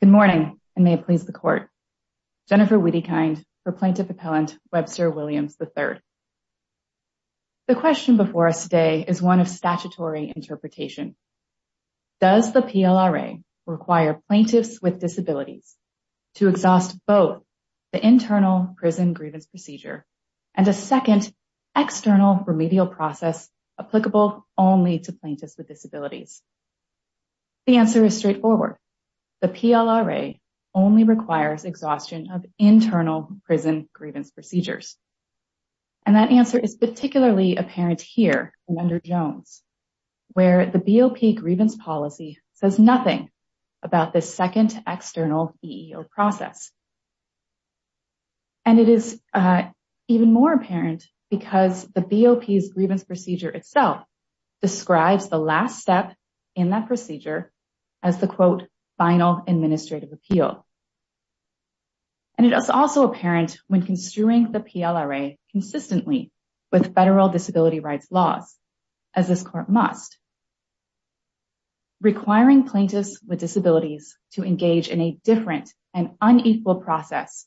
Good morning and may it please the court. Jennifer Wiedekind for Plaintiff Appellant Webster Williams, III. The question before us today is one of statutory interpretation. Does the PLRA require plaintiffs with disabilities to exhaust both the internal prison grievance procedure and a second external remedial process applicable only to plaintiffs with disabilities? Does the PLRA only requires exhaustion of internal prison grievance procedures? And that answer is particularly apparent here under Jones, where the BOP grievance policy says nothing about this second external EEO process. And it is even more apparent because the BOP's grievance procedure itself describes the last step in that procedure as the quote final administrative appeal. And it is also apparent when construing the PLRA consistently with federal disability rights laws, as this court must, requiring plaintiffs with disabilities to engage in a different and unequal process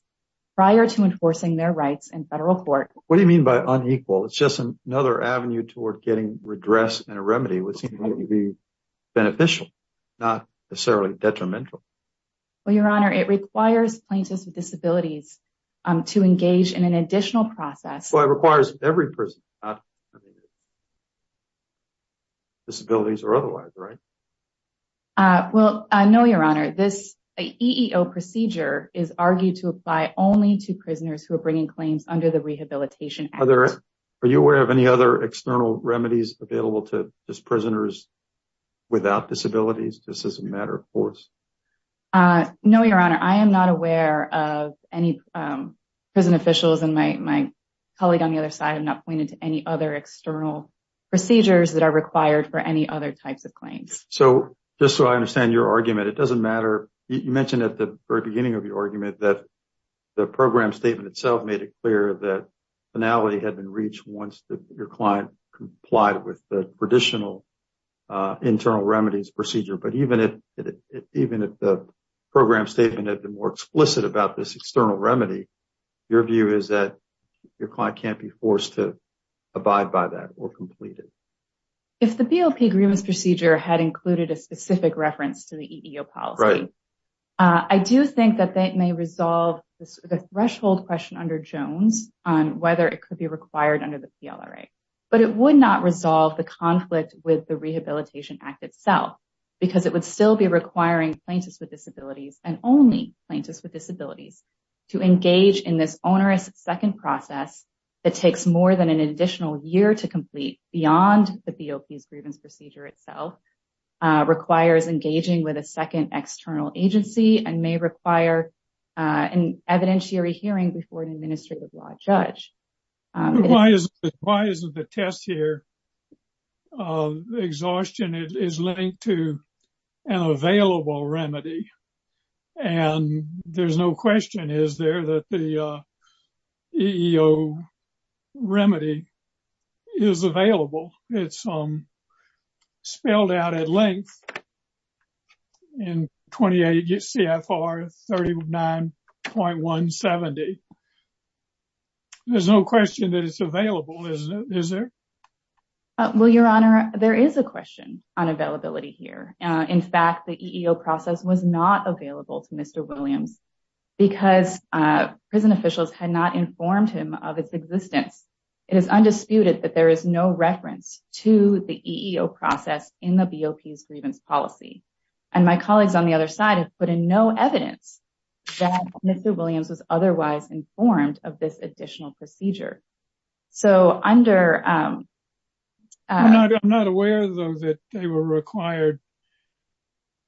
prior to enforcing their rights in federal court. What do you mean by unequal? It's just another avenue toward getting redress and a remedy would seem to be beneficial, not necessarily detrimental. Well, Your Honor, it requires plaintiffs with disabilities to engage in an additional process. Well, it requires every person disabilities or otherwise, right? Well, no, Your Honor, this EEO procedure is argued to apply only to prisoners who are bringing claims under the Rehabilitation Act. Are you aware of any external remedies available to just prisoners without disabilities? This is a matter of course. No, Your Honor, I am not aware of any prison officials and my colleague on the other side have not pointed to any other external procedures that are required for any other types of claims. So just so I understand your argument, it doesn't matter. You mentioned at the very beginning of your argument that the program statement itself made it clear that finality had been reached once your client complied with the traditional internal remedies procedure. But even if the program statement had been more explicit about this external remedy, your view is that your client can't be forced to abide by that or complete it. If the BOP agreements procedure had included a specific reference to the EEO policy, I do think that may resolve the threshold question under Jones on whether it could be required under the PLRA. But it would not resolve the conflict with the Rehabilitation Act itself because it would still be requiring plaintiffs with disabilities and only plaintiffs with disabilities to engage in this onerous second process that takes more than an additional year to complete beyond the BOP's and evidentiary hearing before an administrative law judge. Why isn't the test here? Exhaustion is linked to an available remedy. And there's no question is there that the EEO remedy is available. It's spelled out at length in 28 CFR 39.170. There's no question that it's available, isn't it? Is there? Well, Your Honor, there is a question on availability here. In fact, the EEO process was not available to Mr. Williams because prison officials had not informed him of its existence. It is undisputed that there is no reference to the EEO process in the BOP's grievance policy. And my colleagues on the other side have put in no evidence that Mr. Williams was otherwise informed of this additional procedure. So under... I'm not aware though that they were required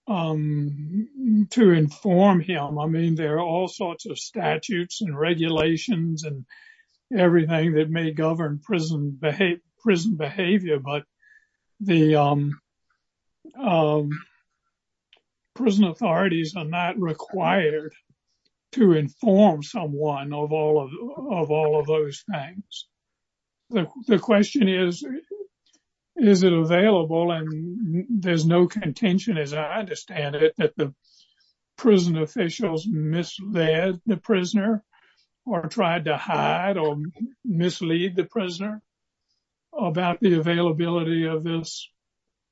to inform him. I mean, there are all sorts of statutes and regulations and everything that may govern prison behavior, but the prison authorities are not required to inform someone of all of those things. The question is, is it available? And there's no contention as I understand it that the prison officials misled the prisoner or tried to hide or mislead the prisoner about the availability of this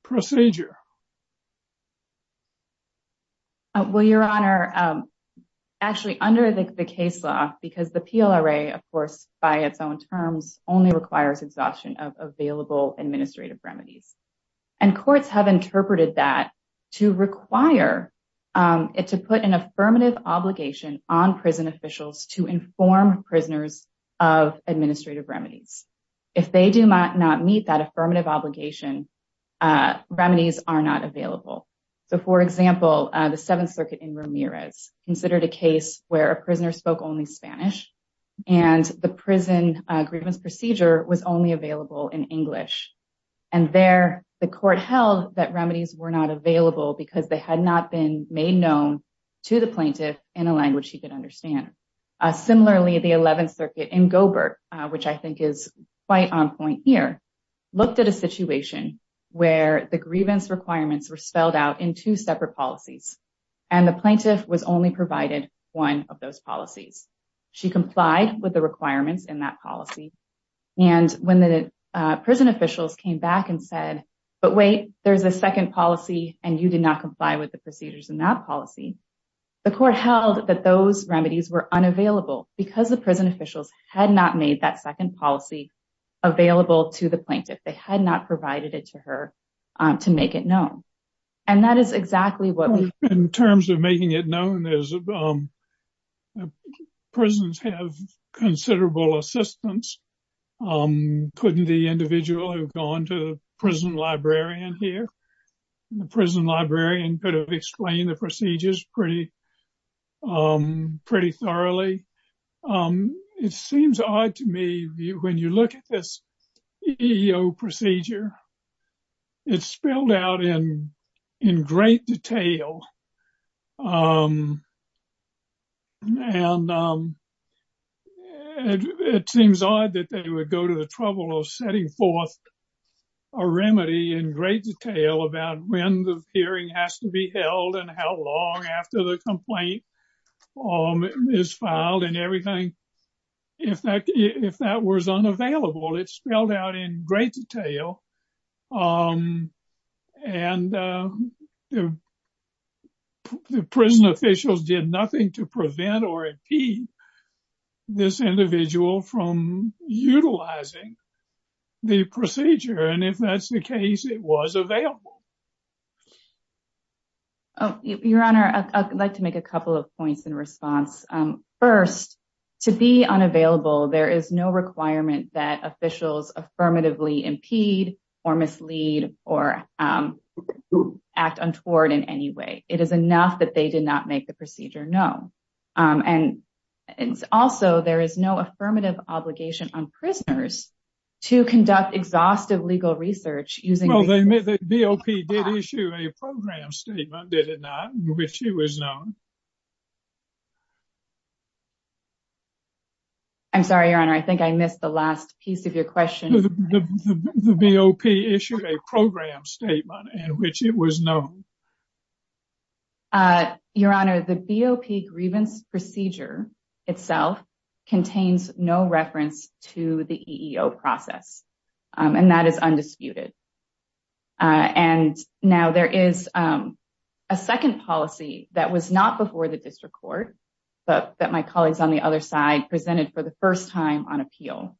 procedure. Well, Your Honor, actually under the case law, because the PLRA of course by its own terms only requires exhaustion of available administrative remedies. And courts have to inform prisoners of administrative remedies. If they do not meet that affirmative obligation, remedies are not available. So for example, the Seventh Circuit in Ramirez considered a case where a prisoner spoke only Spanish and the prison grievance procedure was only available in English. And there the court held that remedies were not available because they had not been made known to the plaintiff in a language she could understand. Similarly, the Eleventh Circuit in Gobert, which I think is quite on point here, looked at a situation where the grievance requirements were spelled out in two separate policies and the plaintiff was only provided one of those policies. She complied with the requirements in that policy. And when the prison officials came back and said, but wait, there's a second policy and you did not comply with the policy, the court held that those remedies were unavailable because the prison officials had not made that second policy available to the plaintiff. They had not provided it to her to make it known. And that is exactly what we... In terms of making it known, prisons have considerable assistance. Couldn't the individual who'd gone to the prison librarian here, the prison librarian could have explained the procedures pretty thoroughly. It seems odd to me when you look at this EEO procedure, it's spelled out in great detail. And it seems odd that they would go to the trouble of setting forth a remedy in great detail about when the hearing has to be held and how long after the complaint is filed and everything. In fact, if that was unavailable, it's spelled out in great detail. And the prison officials did nothing to prevent or impede this individual from utilizing the procedure. And if that's the case, it was available. Your Honor, I'd like to make a couple of points in response. First, to be unavailable, there is no requirement that officials affirmatively impede or mislead or act untoward in any way. It is enough that they did not make the procedure known. And also, there is no affirmative obligation on prisoners to conduct exhaustive legal research. BOP did issue a program statement, did it not? Which it was known. I'm sorry, Your Honor, I think I missed the last piece of your question. The BOP issued a program statement in which it was known. Your Honor, the BOP grievance procedure itself contains no reference to the EEO process. And that is undisputed. Now, there is a second policy that was not before the district court that my colleagues on the other side presented for the first time on appeal.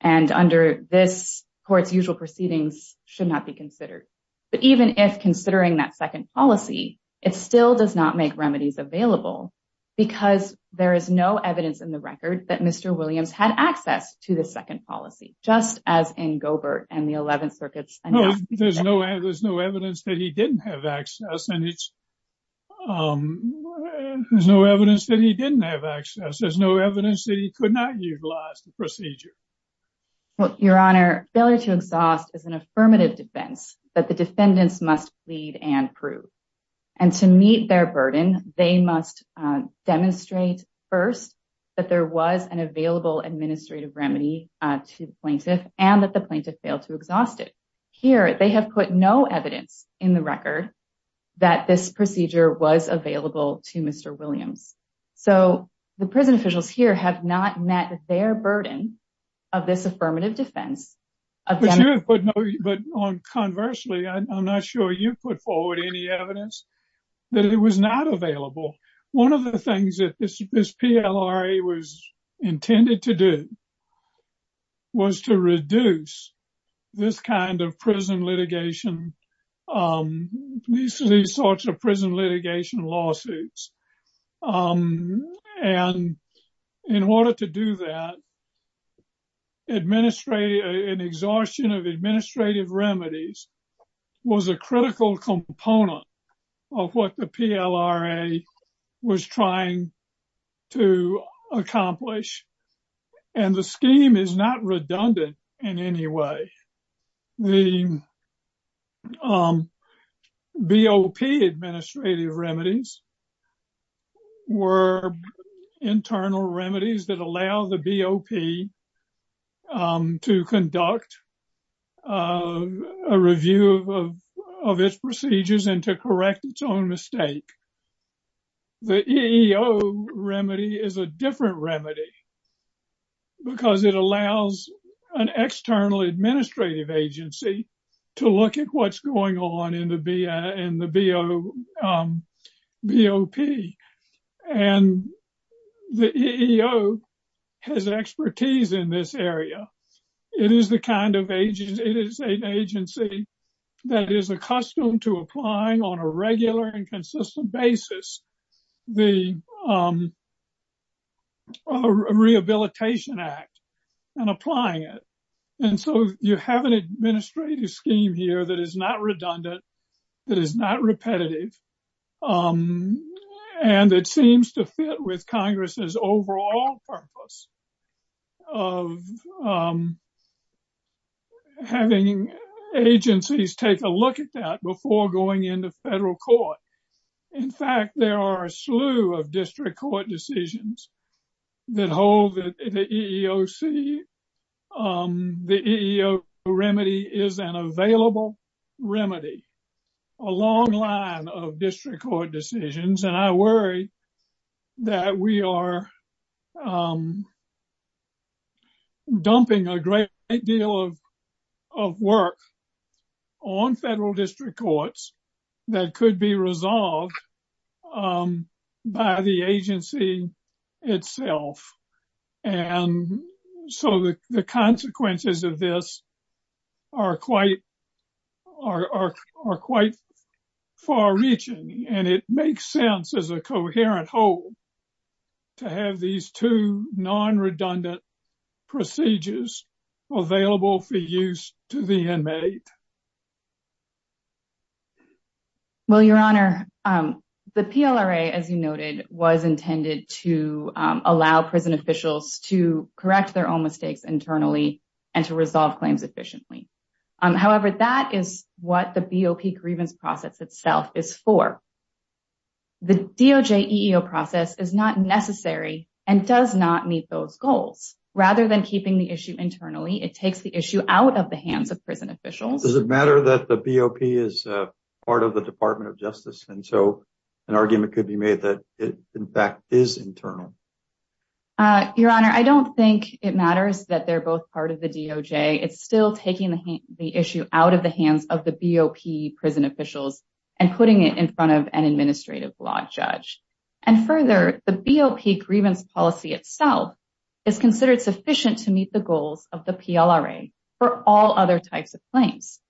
And under this court's usual proceedings should not be considered. But even if considering that second policy, it still does not make remedies available because there is no evidence in the and the 11th circuits. There's no evidence that he didn't have access. There's no evidence that he didn't have access. There's no evidence that he could not utilize the procedure. Your Honor, failure to exhaust is an affirmative defense that the defendants must plead and prove. And to meet their burden, they must demonstrate first that there was an available administrative remedy to the plaintiff and that the plaintiff failed to exhaust it. Here, they have put no evidence in the record that this procedure was available to Mr. Williams. So the prison officials here have not met their burden of this affirmative defense. But conversely, I'm not sure you put forward any evidence that it was not available. One of the things that this PLRA was intended to do was to reduce this kind of prison litigation, these sorts of prison litigation lawsuits. And in order to do that, administrate an exhaustion of administrative remedies was a critical component of what the to accomplish. And the scheme is not redundant in any way. The BOP administrative remedies were internal remedies that allow the BOP to conduct a review of its procedures and to correct its own mistake. The EEO remedy is a different remedy because it allows an external administrative agency to look at what's going on in the BOP. And the EEO has expertise in this area. It is the kind of agency that is accustomed to applying on a regular and consistent basis the Rehabilitation Act and applying it. And so you have an administrative scheme here that is not redundant, that is not repetitive. And it seems to fit with Congress's overall purpose of having agencies take a look at that before going into federal court. In fact, there are a slew of district court decisions that hold the EEOC. The EEO remedy is an available remedy, a long line of district court decisions. And I worry that we are dumping a great deal of work on federal district courts that could be resolved by the agency itself. And so the consequences of this are quite far-reaching and it makes sense as a coherent whole to have these two non-redundant procedures available for use to the inmate. Well, Your Honor, the PLRA, as you noted, was intended to allow prison officials to correct their own mistakes internally and to resolve claims efficiently. However, that is the BOP grievance process itself is for. The DOJ EEO process is not necessary and does not meet those goals. Rather than keeping the issue internally, it takes the issue out of the hands of prison officials. Does it matter that the BOP is part of the Department of Justice? And so an argument could be made that it, in fact, is internal. Your Honor, I don't think it matters that they're both part of the DOJ. It's still taking the issue out of the hands of the BOP prison officials and putting it in front of an administrative law judge. And further, the BOP grievance policy itself is considered sufficient to meet the goals of the PLRA for all other types of claims.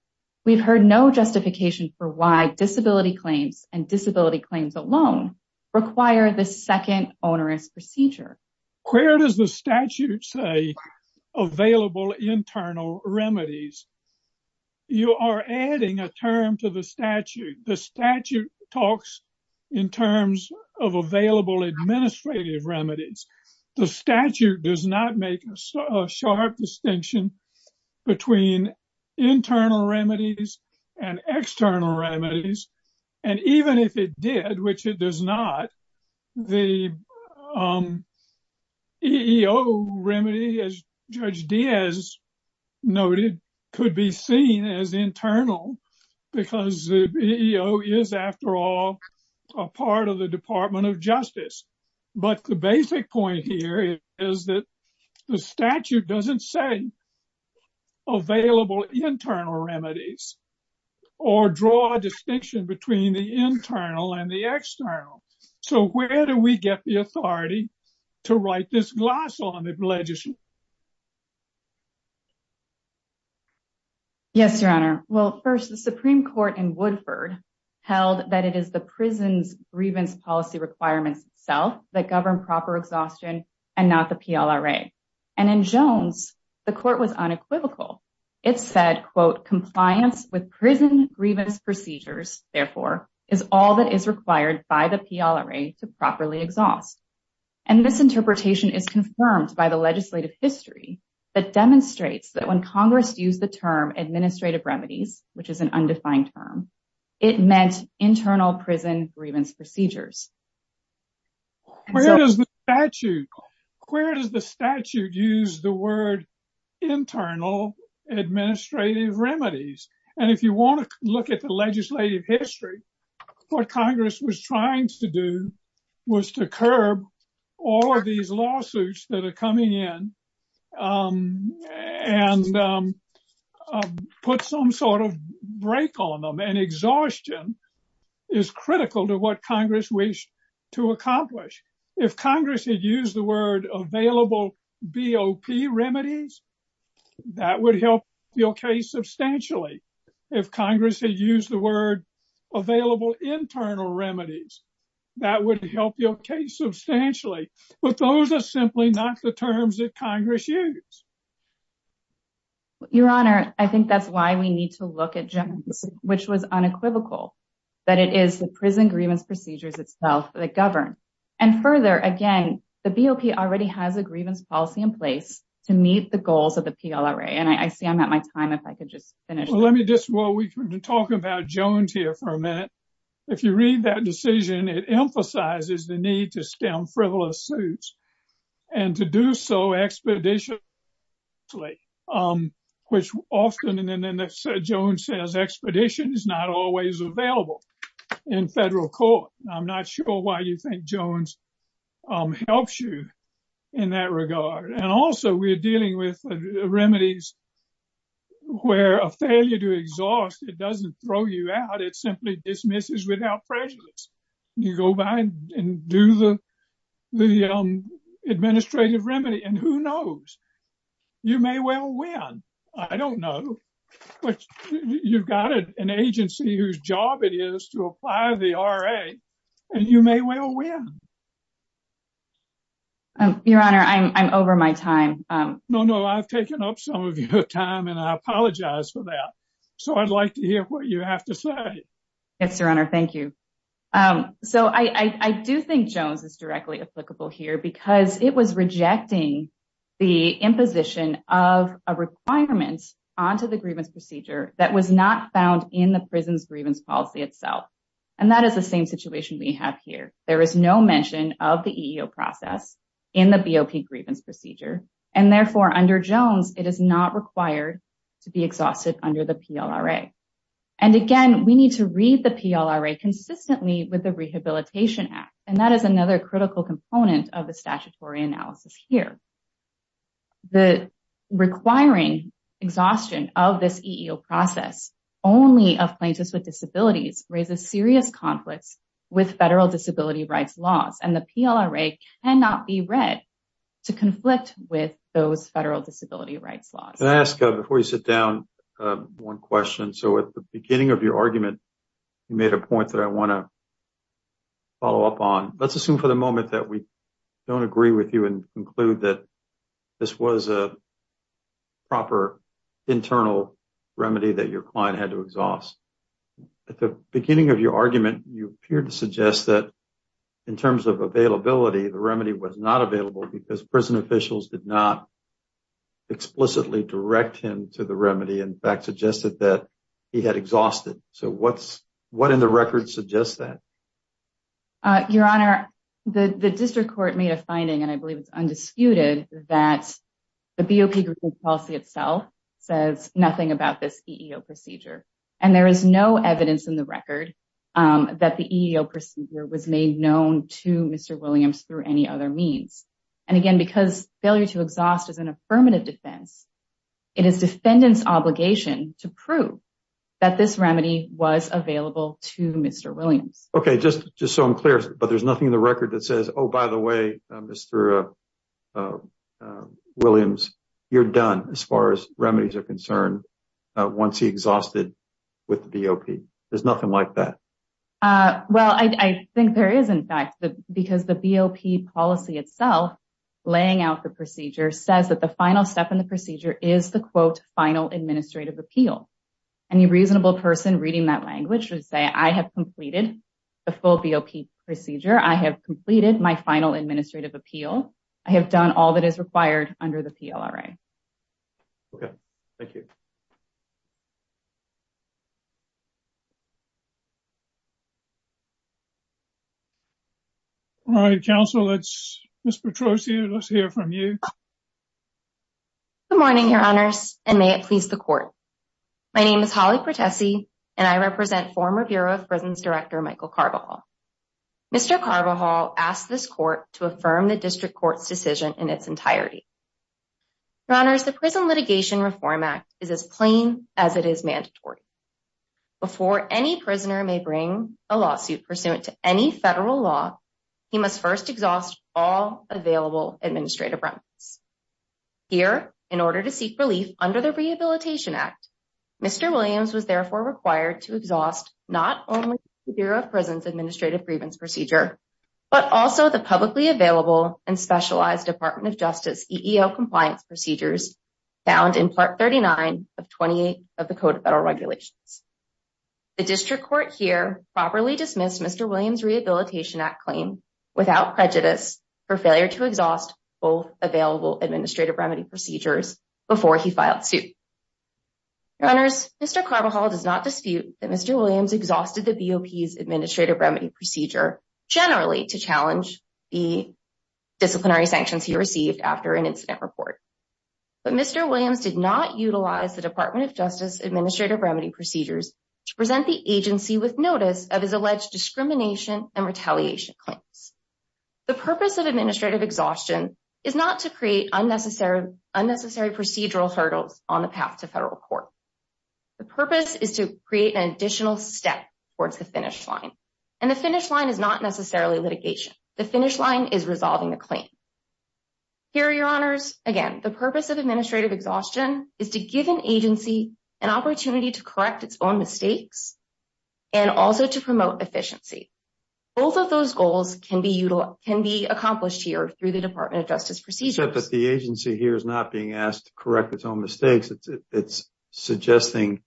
We've heard no justification for why disability claims and disability claims alone require the second onerous procedure. Where does the statute say available internal remedies? You are adding a term to the statute. The statute talks in terms of available administrative remedies. The statute does not make a sharp distinction between internal remedies and external remedies. And even if it did, which it does not, the EEO remedy, as Judge Diaz noted, could be seen as internal because the EEO is, after all, a part of the Department of Justice. But the basic point here is that the statute doesn't say available internal remedies or draw a distinction between the internal and the external. So where do we get the authority to write this gloss on the legislation? Yes, Your Honor. Well, first, the Supreme Court in Woodford held that it is the prison's grievance policy requirements itself that govern proper exhaustion and not the PLRA. And in Jones, the court was unequivocal. It said, quote, compliance with prison grievance procedures, therefore, is all that is required by the PLRA to properly exhaust. And this interpretation is confirmed by the legislative history that demonstrates that when Congress used the term which is an undefined term, it meant internal prison grievance procedures. Where does the statute use the word internal administrative remedies? And if you want to look at the legislative history, what Congress was trying to do was to curb all of these lawsuits that are coming in and put some sort of break on them. And exhaustion is critical to what Congress wished to accomplish. If Congress had used the word available BOP remedies, that would help your case substantially. If Congress had used the word available internal remedies, that would help your case substantially. But those are simply not the terms that Congress used. Your Honor, I think that's why we need to look at Jones, which was unequivocal, that it is the prison grievance procedures itself that govern. And further, again, the BOP already has a grievance policy in place to meet the goals of the PLRA. And I see I'm at my time if I could just finish. Let me just, well, we can talk about Jones here for a minute. If you read that decision, it emphasizes the need to stem frivolous suits and to do so expeditionally, which often, and then Jones says, expedition is not always available in federal court. I'm not sure why you Jones helps you in that regard. And also we're dealing with remedies where a failure to exhaust, it doesn't throw you out, it simply dismisses without prejudice. You go by and do the administrative remedy and who knows, you may well win. I don't know. But you've got an agency whose job it is to apply the RA and you may well win. Your Honor, I'm over my time. No, no, I've taken up some of your time and I apologize for that. So I'd like to hear what you have to say. Yes, Your Honor. Thank you. So I do think Jones is directly applicable here because it was rejecting the imposition of a requirement onto the grievance procedure that was not found in the prison's grievance policy itself. And that is the same situation we have here. There is no mention of the EEO process in the BOP grievance procedure. And therefore under Jones, it is not required to be exhausted under the PLRA. And again, we need to read the PLRA consistently with the Rehabilitation Act. And that is another critical component of the statutory analysis here. The requiring exhaustion of this EEO process only of plaintiffs with disabilities raises serious conflicts with federal disability rights laws. And the PLRA cannot be read to conflict with those federal disability rights laws. Can I ask, before you sit down, one question. So at the beginning of your argument, you made a point that I want to follow up on. Let's assume for the moment that we don't agree with you and conclude that this was a proper internal remedy that your client had to exhaust. At the beginning of your argument, you appear to suggest that in terms of availability, the remedy was not available because prison officials did not explicitly direct him to the remedy. In fact, suggested that he had exhausted. So what in the record suggests that? Your Honor, the district court made a finding, and I believe it's undisputed, that the BOP group policy itself says nothing about this EEO procedure. And there is no evidence in the record that the EEO procedure was made known to Mr. Williams through any other means. And again, because failure to exhaust is an affirmative defense, it is defendant's obligation to prove that this remedy was available to Mr. Williams. Okay, just so I'm clear, but there's nothing in the record that says, oh, by the way, Mr. Williams, you're done as far as remedies are concerned once he exhausted with the BOP. There's nothing like that. Well, I think there is, in fact, because the BOP policy itself, laying out the procedure, says that the final step in the procedure is the quote, final administrative appeal. Any reasonable person reading that language would say, I have completed the full BOP procedure. I have completed my final administrative appeal. I have done all that is required under the PLRA. Okay, thank you. All right, counsel, let's, Ms. Petrosian, let's hear from you. Good morning, Your Honors, and may it please the court. My name is Holly Pertessi, and I represent former Bureau of Prisons Director Michael Carvajal. Mr. Carvajal asked this court to affirm the district court's decision in its entirety. Your Honors, the Prison Litigation Reform Act is as plain as it is mandatory. Before any prisoner may bring a lawsuit pursuant to any federal law, he must first exhaust all available administrative agreements. Here, in order to seek relief under the Rehabilitation Act, Mr. Williams was therefore required to exhaust not only the Bureau of Prisons Administrative Prevents Procedure, but also the publicly available and specialized Department of Justice EEO compliance procedures found in Part 39 of 28 of the Code of Federal Regulations. The district court here properly dismissed Mr. Williams' Rehabilitation Act claim without prejudice for failure to exhaust both available administrative remedy procedures before he filed suit. Your Honors, Mr. Carvajal does not dispute that Mr. Williams exhausted the BOP's Administrative Remedy Procedure generally to challenge the disciplinary sanctions he received after an incident report. But Mr. Williams did not utilize the Department of Justice Administrative Remedy Procedures to present the agency with notice of his alleged discrimination and retaliation claims. The purpose of administrative exhaustion is not to create unnecessary procedural hurdles on the path to federal court. The purpose is to create an additional step towards the finish line. And the finish line is not necessarily litigation. The finish line is resolving the claim. Here, Your Honors, again, the purpose of administrative exhaustion is to give an agency an opportunity to correct its own mistakes and also to promote efficiency. Both of those goals can be accomplished here through the Department of Justice procedures. Except that the agency here is not being asked to correct its own mistakes. It's suggesting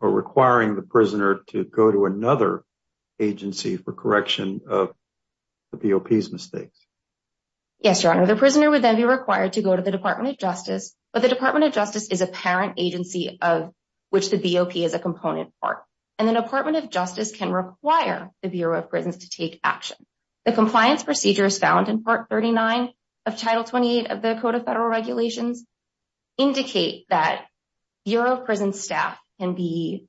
or requiring the prisoner to go to another agency for correction of the BOP's mistakes. Yes, Your Honor. The prisoner would then be required to go to the Department of Justice, but the Department of Justice is a parent agency of which the BOP is a component part. The Department of Justice can require the Bureau of Prisons to take action. The compliance procedures found in Part 39 of Title 28 of the Code of Federal Regulations indicate that Bureau of Prisons staff can be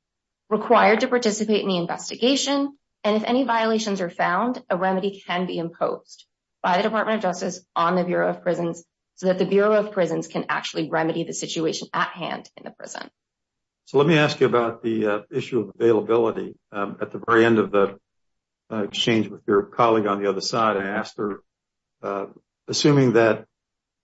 required to participate in the investigation. And if any violations are found, a remedy can be imposed by the Department of Justice on the Bureau of Prisons so that the Bureau of Prisons can actually remedy the situation at hand in the prison. So let me ask you about the issue of availability. At the very end of the exchange with your colleague on the other side, I asked her, assuming that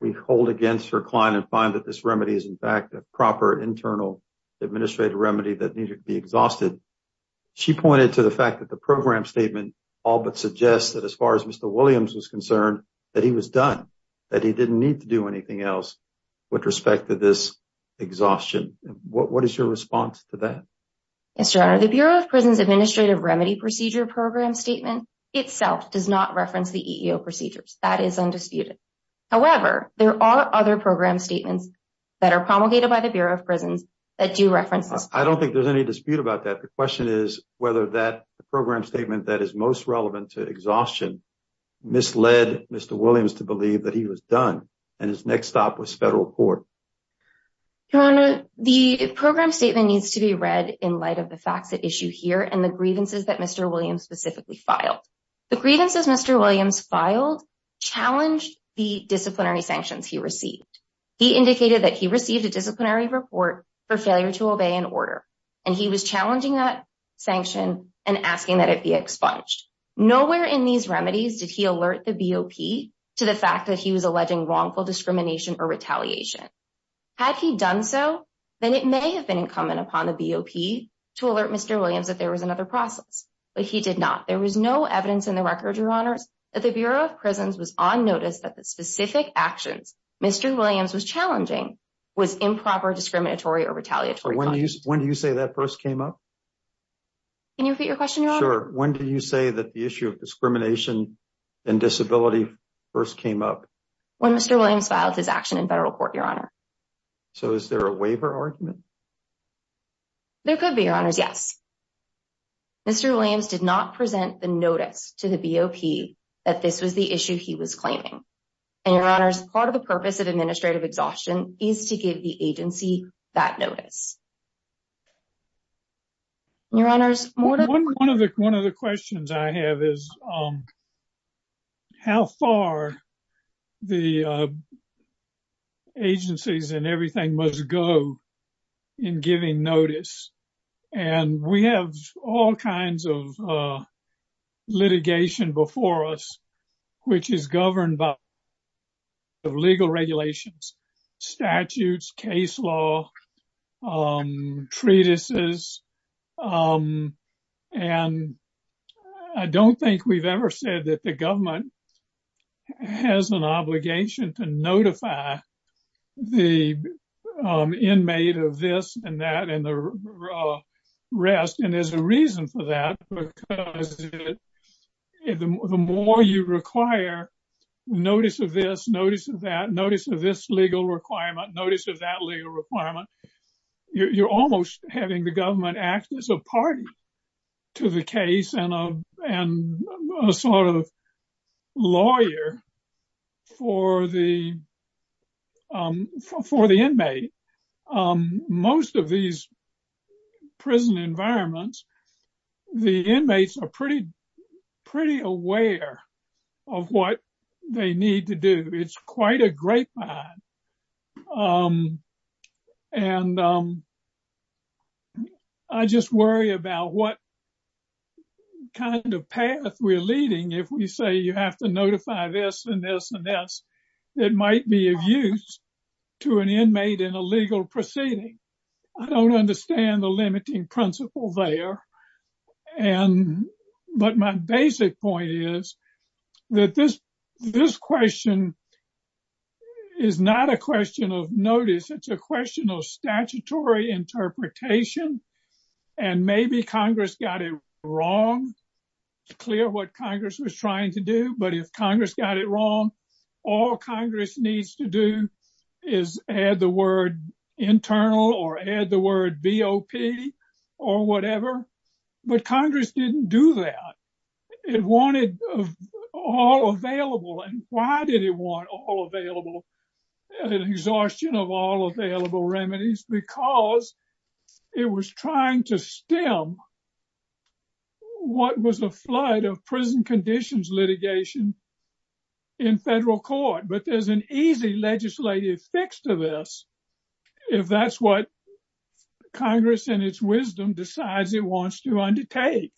we hold against her client and find that this remedy is in fact a proper internal administrative remedy that needed to be exhausted, she pointed to the fact that the program statement all but suggests that as far as Mr. Williams was concerned, that he was done. That he didn't need to do anything else with respect to this exhaustion. What is your response to that? Mr. Honor, the Bureau of Prisons Administrative Remedy Procedure Program Statement itself does not reference the EEO procedures. That is undisputed. However, there are other program statements that are promulgated by the Bureau of Prisons that do reference this. I don't think there's any dispute about that. The question is whether that program statement that is most relevant to exhaustion misled Mr. Williams to believe that he was done and his next stop was federal court. Your Honor, the program statement needs to be read in light of the facts at issue here and the grievances that Mr. Williams specifically filed. The grievances Mr. Williams filed challenged the disciplinary sanctions he received. He indicated that he received a disciplinary report for failure to obey an order. And he was challenging that expunged. Nowhere in these remedies did he alert the BOP to the fact that he was alleging wrongful discrimination or retaliation. Had he done so, then it may have been incumbent upon the BOP to alert Mr. Williams that there was another process. But he did not. There was no evidence in the record, Your Honors, that the Bureau of Prisons was on notice that the specific actions Mr. Williams was challenging was improper, discriminatory, or retaliatory. When do you say that first came up? Can you repeat your question, Your Honor? When do you say that the issue of discrimination and disability first came up? When Mr. Williams filed his action in federal court, Your Honor. So is there a waiver argument? There could be, Your Honors, yes. Mr. Williams did not present the notice to the BOP that this was the issue he was claiming. And Your Honors, part of the purpose of administrative exhaustion is to give the agency that notice. Your Honors, more to the point. One of the questions I have is how far the agencies and everything must go in giving notice. And we have all kinds of litigation before us, which is governed by legal regulations, statutes, case law, treatises. And I don't think we've ever said that the government has an obligation to notify the inmate of this and that and the rest. And there's a reason for that. The more you require notice of this, notice of that, notice of this legal requirement, notice of that legal requirement, you're almost having the government act as a party to the case and a sort of lawyer for the inmate. In most of these prison environments, the inmates are pretty aware of what they need to do. It's quite a grapevine. And I just worry about what kind of path we're leading if we say you have to notify this and this and this. It might be of use to an inmate in a legal proceeding. I don't understand the limiting principle there. But my basic point is that this question is not a question of notice. It's a question of statutory interpretation. And maybe Congress got it wrong. It's clear what Congress was trying to do. But if Congress got it wrong, all Congress needs to do is add the word internal or add the word BOP or whatever. But Congress didn't do that. It wanted all available. And why did it want all available? An exhaustion of all available remedies because it was trying to stem what was a flood of prison conditions litigation in federal court. But there's an easy legislative fix to this if that's what Congress in its wisdom decides it wants to undertake.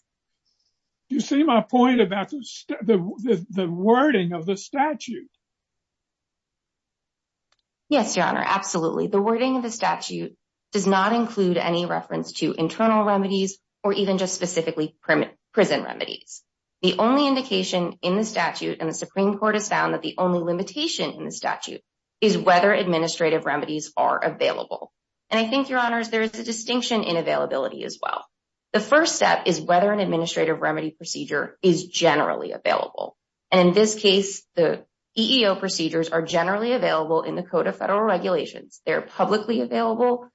You see my point about the wording of the statute. Yes, Your Honor. Absolutely. The wording of the statute does not include any reference to internal remedies or even just specifically prison remedies. The only indication in the statute and the Supreme Court has found that the only limitation in the statute is whether administrative remedies are available. And I think, Your Honors, there is a distinction in availability as well. The first step is whether an administrative remedy procedure is generally available. And in this case, the EEO procedures are generally available in the Code of Federal Regulations. They're publicly available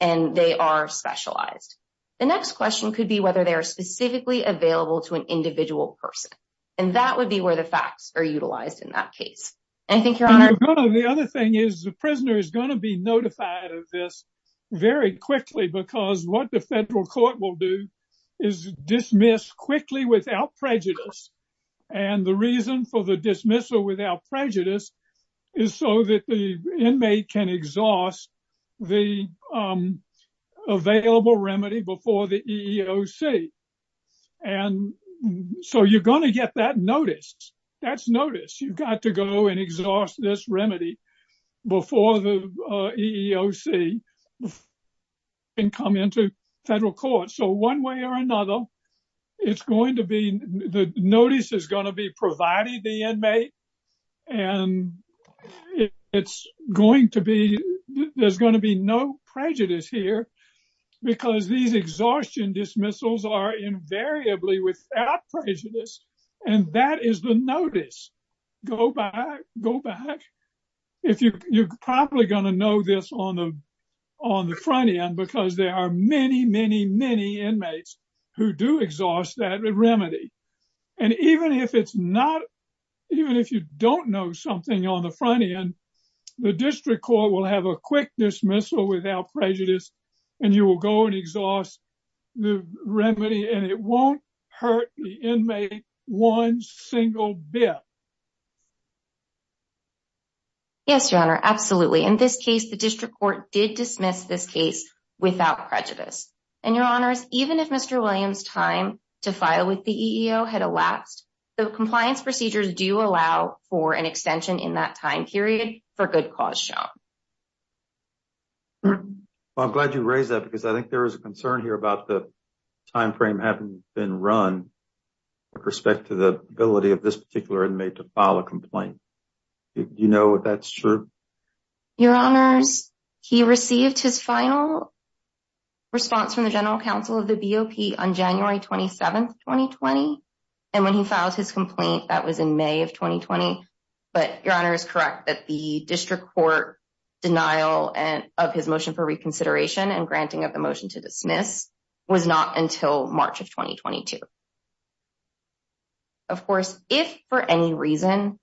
and they are specialized. The next question could be whether they are specifically available to an individual person. And that would be where the facts are utilized in that case. And I think, Your Honor. The other thing is the prisoner is going to be notified of this very quickly because what the federal court will do is dismiss quickly without prejudice. And the reason for the dismissal without prejudice is so that the inmate can exhaust the available remedy before the EEOC. And so you're going to get that notice. That's notice. You've got to go and exhaust this remedy before the EEOC and come into federal court. So one way or another, it's going to be the notice is going to be provided the inmate. And it's going to be there's going to be no prejudice here because these exhaustion dismissals are invariably without prejudice. And that is the notice. Go back. Go back. You're probably going to know this on the front end because there are many, many, many inmates who do exhaust that remedy. And even if it's not, even if you don't know something on the front end, the district court will have a quick dismissal without prejudice and you will go and exhaust the remedy and it won't hurt the inmate one single bit. Yes, your honor. Absolutely. In this case, the district court did dismiss this case without prejudice. And your honors, even if Mr. Williams time to file with the EEO had elapsed, the compliance procedures do allow for an extension in that time period for good cause shown. I'm glad you raised that because I think there is a concern here about the time frame having been run with respect to the ability of this particular inmate to file a complaint. Do you know if that's true? Your honors, he received his final response from the general counsel of the BOP on January 27th, 2020. And when he filed his complaint, that was May of 2020. But your honor is correct that the district court denial of his motion for reconsideration and granting of the motion to dismiss was not until March of 2022. Of course, if for any reason,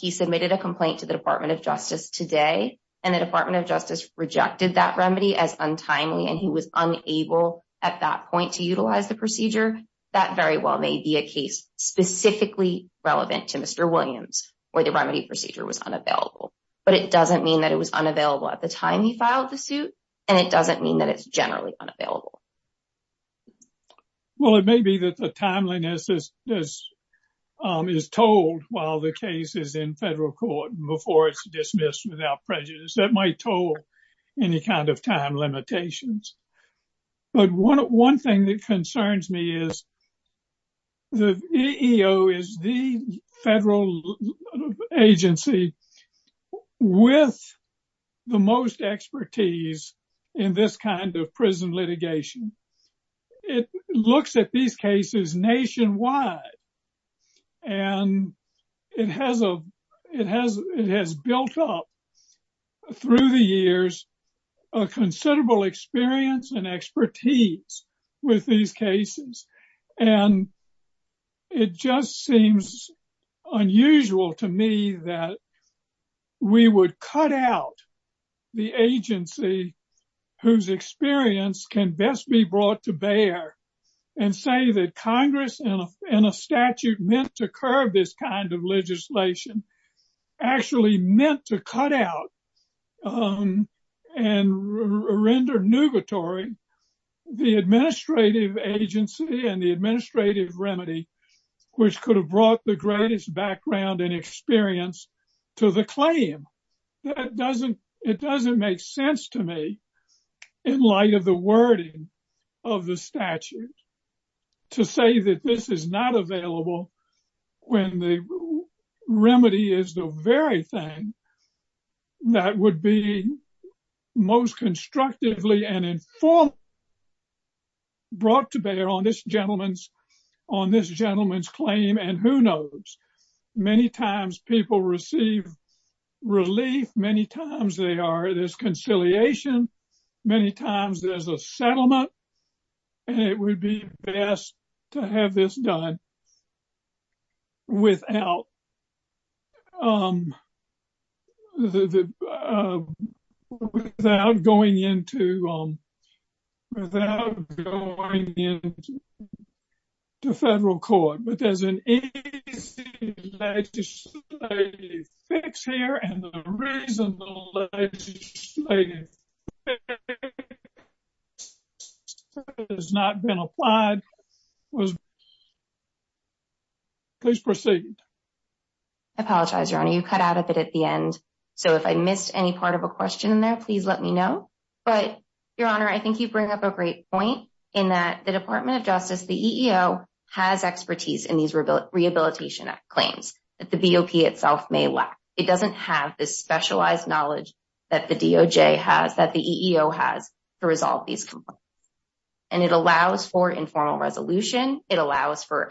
he submitted a complaint to the department of justice today and the department of justice rejected that remedy as untimely and he was unable at that point to Mr. Williams or the remedy procedure was unavailable. But it doesn't mean that it was unavailable at the time he filed the suit. And it doesn't mean that it's generally unavailable. Well, it may be that the timeliness is told while the case is in federal court before it's dismissed without prejudice that might toll any kind of time limitations. But one thing that concerns me is the EEO is the federal agency with the most expertise in this kind of prison litigation. It looks at these cases nationwide. And it has built up through the years, a considerable experience and expertise with these cases. And it just seems unusual to me that we would cut out the agency whose experience can best be brought to bear and say that Congress and a statute meant to curb this kind of legislation actually meant to cut out and render nugatory the administrative agency and the administrative remedy, which could have brought the greatest background and experience to the claim. It doesn't make sense to me in light of the wording of the statute to say that this is not remedy is the very thing that would be most constructively and in full brought to bear on this gentleman's claim. And who knows, many times people receive relief, many times they are this conciliation, many times there's a settlement. And it would be best to have this done without going into federal court, but there's an easy legislative fix here. And the reason the legislative has not been applied was, please proceed. I apologize, your honor, you cut out a bit at the end. So if I missed any part of a question there, please let me know. But your honor, I think you bring up a great point in that the Rehabilitation Act claims that the BOP itself may lack. It doesn't have this specialized knowledge that the DOJ has, that the EEO has to resolve these complaints. And it allows for informal resolution. It allows for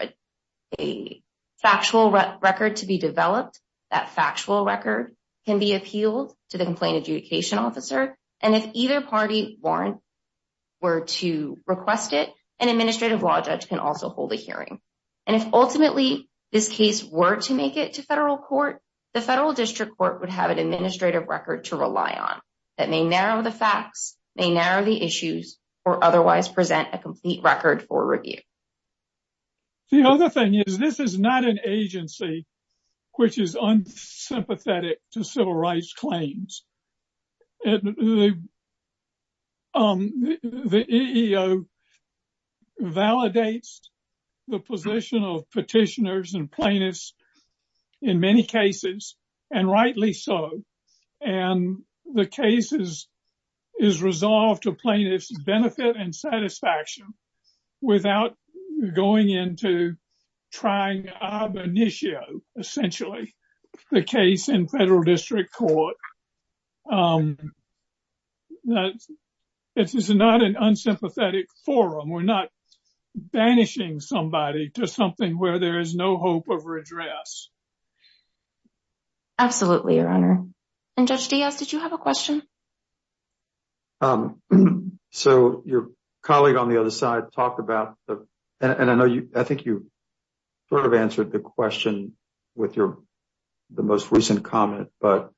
a factual record to be developed. That factual record can be appealed to the complaint adjudication officer. And if either party warrant were to request it, an administrative law judge can also hold a hearing. And if ultimately this case were to make it to federal court, the federal district court would have an administrative record to rely on that may narrow the facts, may narrow the issues, or otherwise present a complete record for review. The other thing is, this is not an agency which is unsympathetic to civil rights claims. The EEO validates the position of petitioners and plaintiffs in many cases, and rightly so. And the case is resolved to plaintiffs' benefit and satisfaction without going into trying ab initio, essentially, the case in federal district court. This is not an unsympathetic forum. We're not banishing somebody to something where there is no hope of redress. Absolutely, Your Honor. And Judge Diaz, did you have a question? So, your colleague on the other side talked about the, and I know you, I think you sort of answered the question with your, the most recent comment, but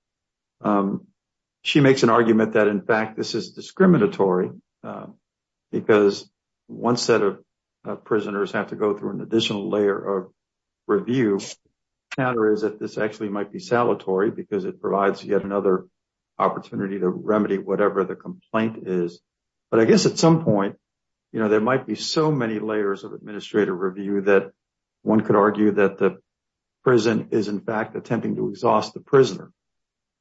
she makes an argument that, in fact, this is discriminatory because one set of prisoners have to go through an additional layer of review. The counter is that this actually might be salutary because it provides yet another opportunity to remedy whatever the complaint is. But I guess, at some point, you know, there might be so many layers of administrative review that one could argue that the prison is, in fact, attempting to exhaust the prisoner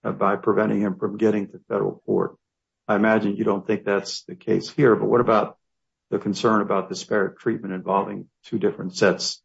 by preventing him from getting to federal court. I imagine you don't think that's the case here, but what about the concern about disparate treatment involving two different sets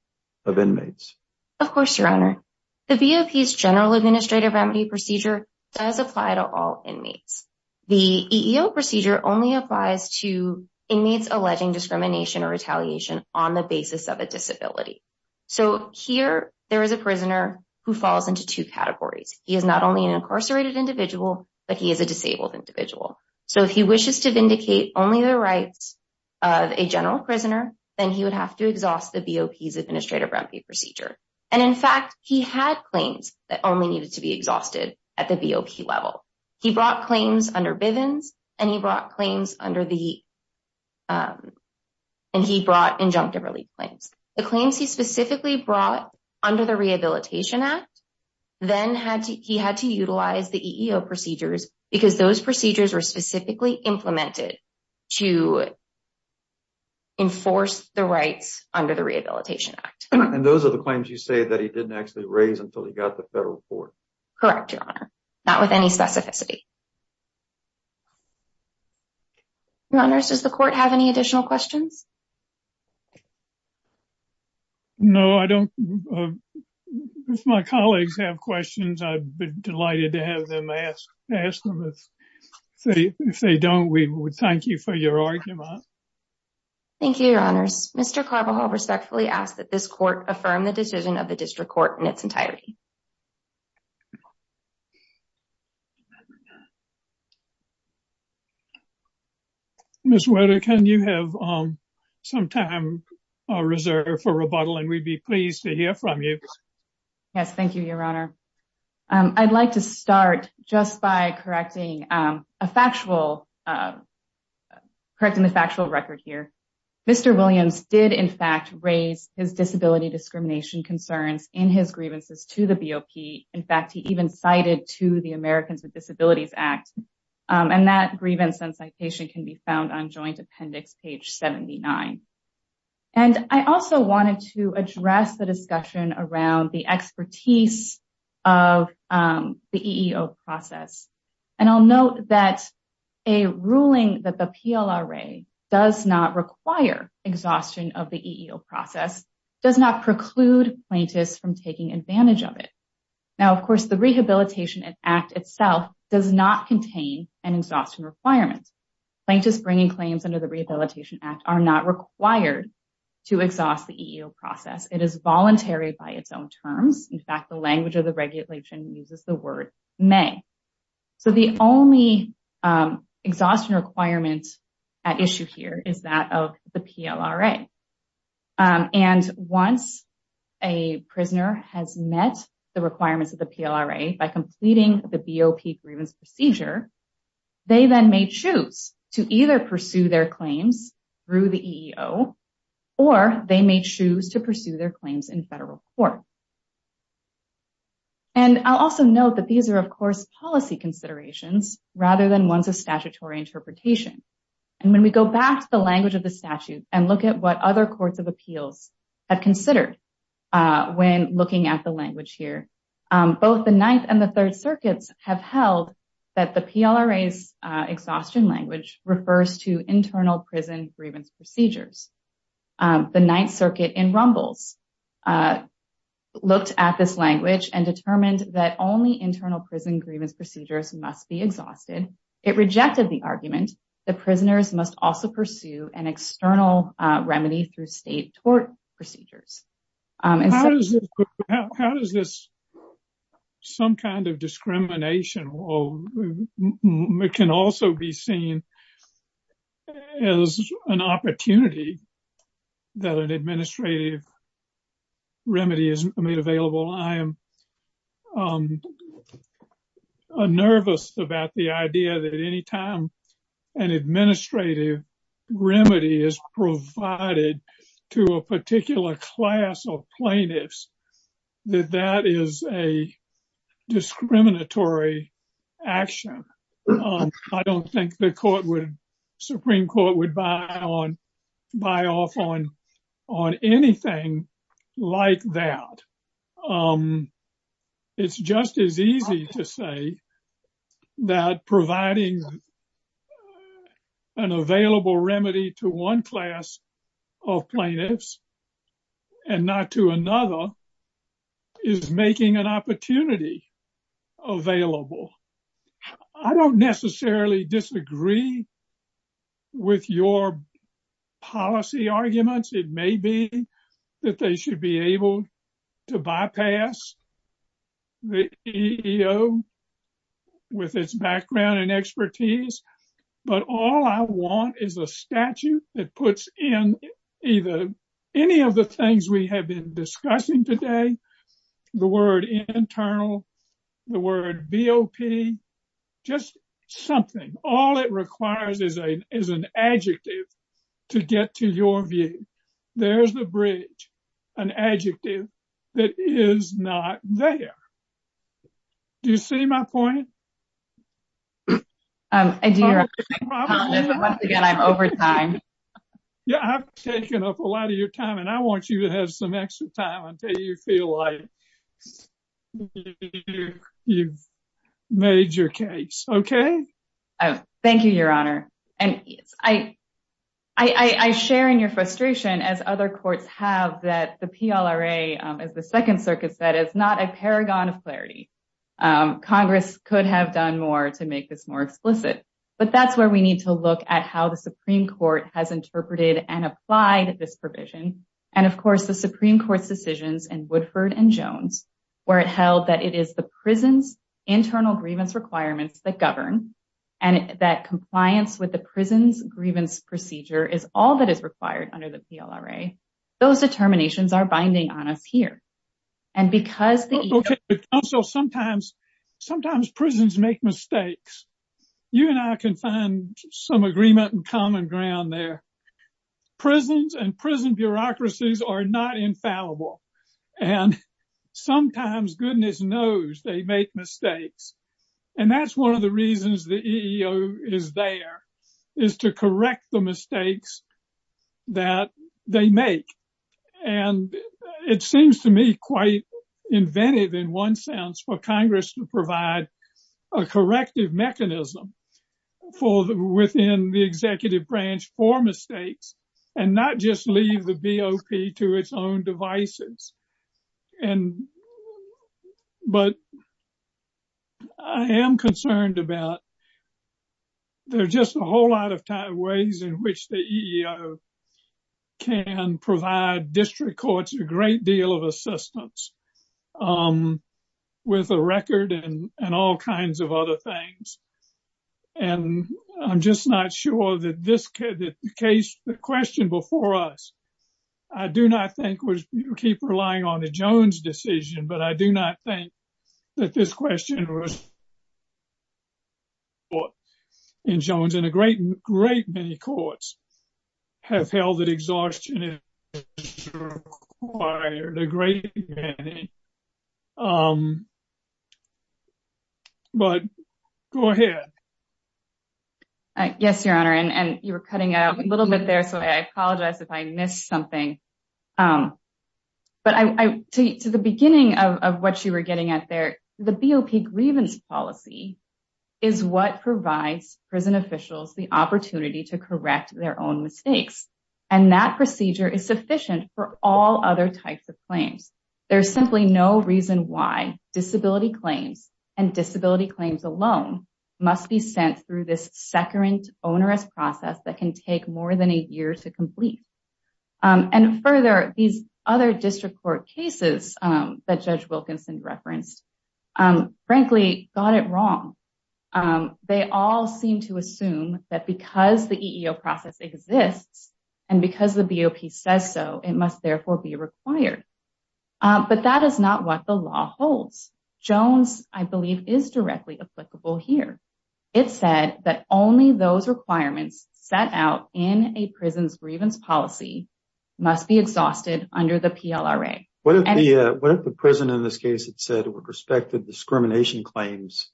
of inmates? Of course, Your Honor. The VOP's Administrative Remedy Procedure does apply to all inmates. The EEO procedure only applies to inmates alleging discrimination or retaliation on the basis of a disability. So, here, there is a prisoner who falls into two categories. He is not only an incarcerated individual, but he is a disabled individual. So, if he wishes to vindicate only the rights of a general prisoner, then he would have to exhaust the VOP's Administrative Remedy Procedure. And, in fact, he had claims that only needed to be exhausted at the VOP level. He brought claims under Bivens, and he brought claims under the, and he brought injunctive relief claims. The claims he specifically brought under the Rehabilitation Act, then he had to utilize the EEO procedures because those procedures were specifically implemented to enforce the rights under the EEO. Correct, Your Honor. Not with any specificity. Your Honors, does the Court have any additional questions? No, I don't. If my colleagues have questions, I'd be delighted to have them ask them. If they don't, we would thank you for your argument. Thank you, Your Honors. Mr. Carbajal respectfully asks that this Court affirm the decision of the District Court in its entirety. Ms. Wetter, can you have some time reserved for rebuttal? And we'd be pleased to hear from you. Yes, thank you, Your Honor. I'd like to start just by correcting a factual, correcting the factual record here. Mr. Williams did, in fact, raise his disability discrimination concerns in his grievances to the VOP. In fact, he even cited to the Americans with Disabilities Act. And that grievance and citation can be found on Joint Appendix page 79. And I also wanted to address the discussion around the expertise of the EEO process. And I'll note that a ruling that the PLRA does not require exhaustion of the EEO process does not preclude plaintiffs from taking advantage of it. Now, of course, the Rehabilitation Act itself does not contain an exhaustion requirement. Plaintiffs bringing claims under the Rehabilitation Act are not required to exhaust the EEO process. It is voluntary by its own terms. In fact, the language of the regulation uses the word may. So, the only exhaustion requirement at issue here is that of the PLRA. And once a prisoner has met the requirements of the PLRA by completing the VOP grievance procedure, they then may choose to either pursue their claims through the EEO or they may choose to pursue their claims in federal court. And I'll also note that these are, of course, policy considerations rather than ones of statutory interpretation. And when we go back to the language of the statute and look at what other courts of appeals have considered when looking at the language here, both the Ninth and the Third Circuits have held that the PLRA's exhaustion language refers to internal prison grievance procedures. The Ninth Circuit in Rumbles looked at this language and determined that only internal prison grievance procedures must be exhausted. It rejected the argument that prisoners must also pursue an external remedy through state tort procedures. How does this, some kind of discrimination can also be seen as an opportunity that an administrative remedy is made available? I am nervous about the idea that anytime an administrative remedy is provided to a particular class of plaintiffs, that that is a discriminatory action. I don't think the Supreme Court would buy off on anything like that. Um, it's just as easy to say that providing an available remedy to one class of plaintiffs and not to another is making an opportunity available. I don't necessarily disagree with your policy arguments. It may be that they should be able to bypass the EEO with its background and expertise, but all I want is a statute that puts in either any of the things we have been discussing today, the word internal, the word BOP, just something. All it requires is an adjective to get to your view. There's the bridge, an adjective that is not there. Do you see my point? Um, I do. Once again, I'm over time. Yeah, I've taken up a lot of your time and I want you to have some extra time until you feel like you've made your case. Okay. Thank you, Your Honor. And I share in your frustration, as other courts have, that the PLRA, as the Second Circuit said, is not a paragon of clarity. Congress could have done more to make this more explicit, but that's where we need to look at how the Supreme Court has interpreted and applied this provision. And of course, the Supreme Court's Woodford v. Jones, where it held that it is the prison's internal grievance requirements that govern, and that compliance with the prison's grievance procedure is all that is required under the PLRA, those determinations are binding on us here. And because the EEO... Okay, but counsel, sometimes prisons make mistakes. You and I can find some agreement and common ground there. Prisons and prison bureaucracies are not infallible. And sometimes, goodness knows, they make mistakes. And that's one of the reasons the EEO is there, is to correct the mistakes that they make. And it seems to me quite inventive, in one sense, for Congress to for mistakes, and not just leave the BOP to its own devices. But I am concerned about there's just a whole lot of ways in which the EEO can provide district courts a great deal of this case, the question before us. I do not think we keep relying on the Jones decision, but I do not think that this question was in Jones. And a great, great many courts have held that exhaustion is required, a great many. But go ahead. Yes, Your Honor. And you were cutting out a little bit there, so I apologize if I missed something. But to the beginning of what you were getting at there, the BOP grievance policy is what provides prison officials the opportunity to correct their own mistakes. And that procedure is sufficient for all other types of claims. There's simply no reason why disability claims and disability claims alone must be sent through this securant, onerous process that can take more than a year to complete. And further, these other district court cases that Judge Wilkinson referenced, frankly, got it wrong. They all seem to assume that because the EEO process exists, and because the BOP says so, it must therefore be required. But that is not what the law holds. Jones, I believe, is directly applicable here. It said that only those requirements set out in a prison's grievance policy must be exhausted under the PLRA. What if the prison in this case had said, with respect to discrimination claims,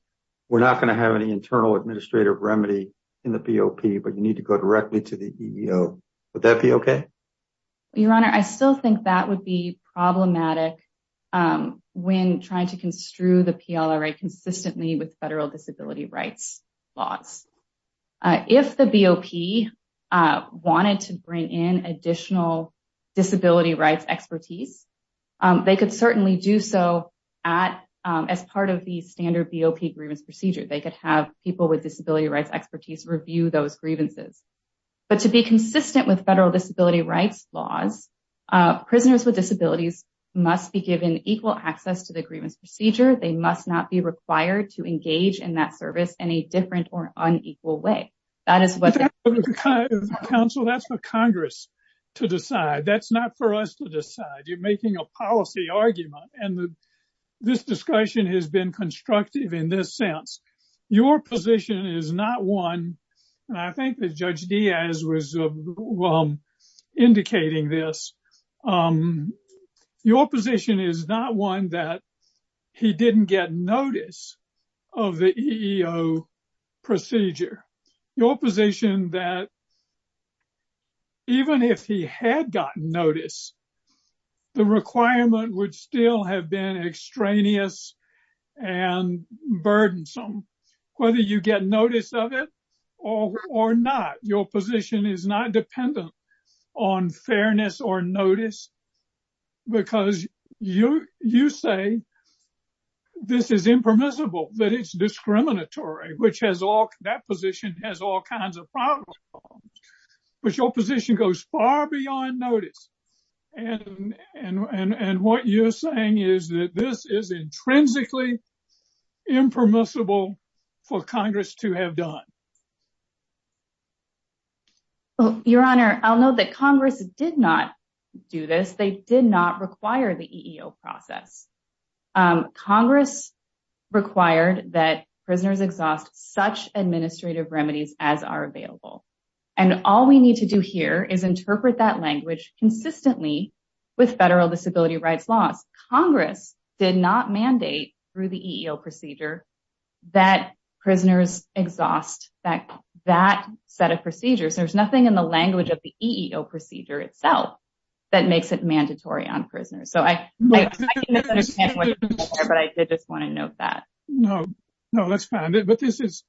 we're not going to have any internal administrative remedy in the BOP, but you need to go directly to the EEO. Would that be okay? Your Honor, I still think that would be problematic when trying to construe the PLRA consistently with federal disability rights laws. If the BOP wanted to bring in additional disability rights expertise, they could certainly do so as part of the standard BOP grievance procedure. They could have people with disability rights expertise review those grievances. But to be consistent with federal disability rights laws, prisoners with disabilities must be given equal access to the grievance procedure. They must not be required to engage in that service in a different or unequal way. That is what... Counsel, that's for Congress to decide. That's not for us to decide. You're making a policy argument. This discussion has been constructive in this sense. Your position is not one, and I think that Judge Diaz was indicating this, your position is not one that he didn't get notice of the EEO procedure. Your position is that even if he had gotten notice, the requirement would still have been extraneous and burdensome. Whether you get notice of it, or not, your position is not dependent on fairness or notice. Because you say this is impermissible, that it's discriminatory, which has all... That position has all kinds of problems. But your position goes far beyond notice. And what you're saying is that this is intrinsically impermissible for Congress to have done. Your Honor, I'll note that Congress did not do this. They did not require the EEO process. Congress required that prisoners exhaust such administrative remedies as are available. And all we need to do here is interpret that language consistently with federal disability rights laws. Congress did not mandate through the EEO procedure that prisoners exhaust that set of procedures. There's nothing in the language of the EEO procedure itself that makes it mandatory on prisoners. So I didn't understand what you're saying there, but I did just want to note that. No, no, that's fine. But this is,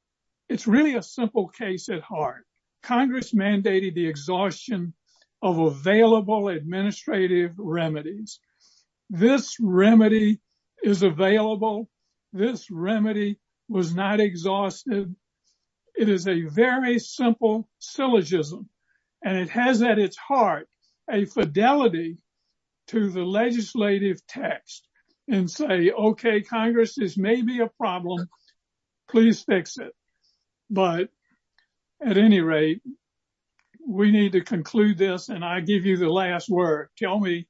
it's really a simple case at heart. Congress mandated the exhaustion of available administrative remedies. This remedy is available. This remedy was not exhausted. It is a very simple syllogism, and it has at its heart a fidelity to the legislative text and say, okay, Congress, this may be a problem. Please fix it. But at any rate, we need to conclude this. And I give you the last word. Tell me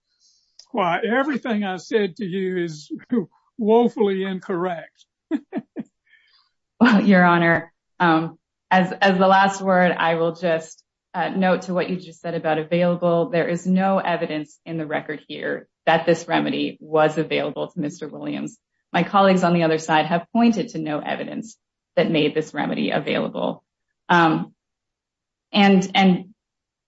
why everything I said to you is woefully incorrect. Your Honor, as the last word, I will just note to what you just said about available, there is no evidence in the record here that this remedy was available to Mr. Williams. My colleagues on the other side have pointed to no evidence that made this remedy available. And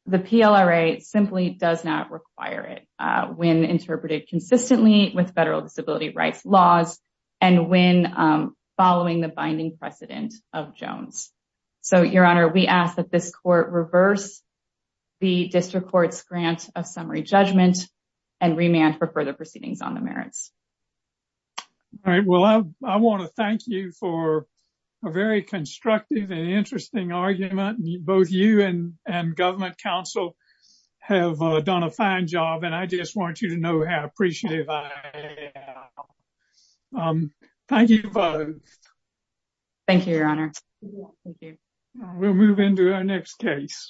the PLRA simply does not require it when interpreted consistently with federal disability rights laws and when following the binding precedent of Jones. So, Your Honor, we ask that this court reverse the district court's grant of summary judgment and remand for further proceedings on the merits. All right. Well, I want to thank you for a very constructive and interesting argument. Both you and government counsel have done a fine job, and I just want you to know how appreciative I am. Thank you both. Thank you, Your Honor. Thank you. We'll move into our next case.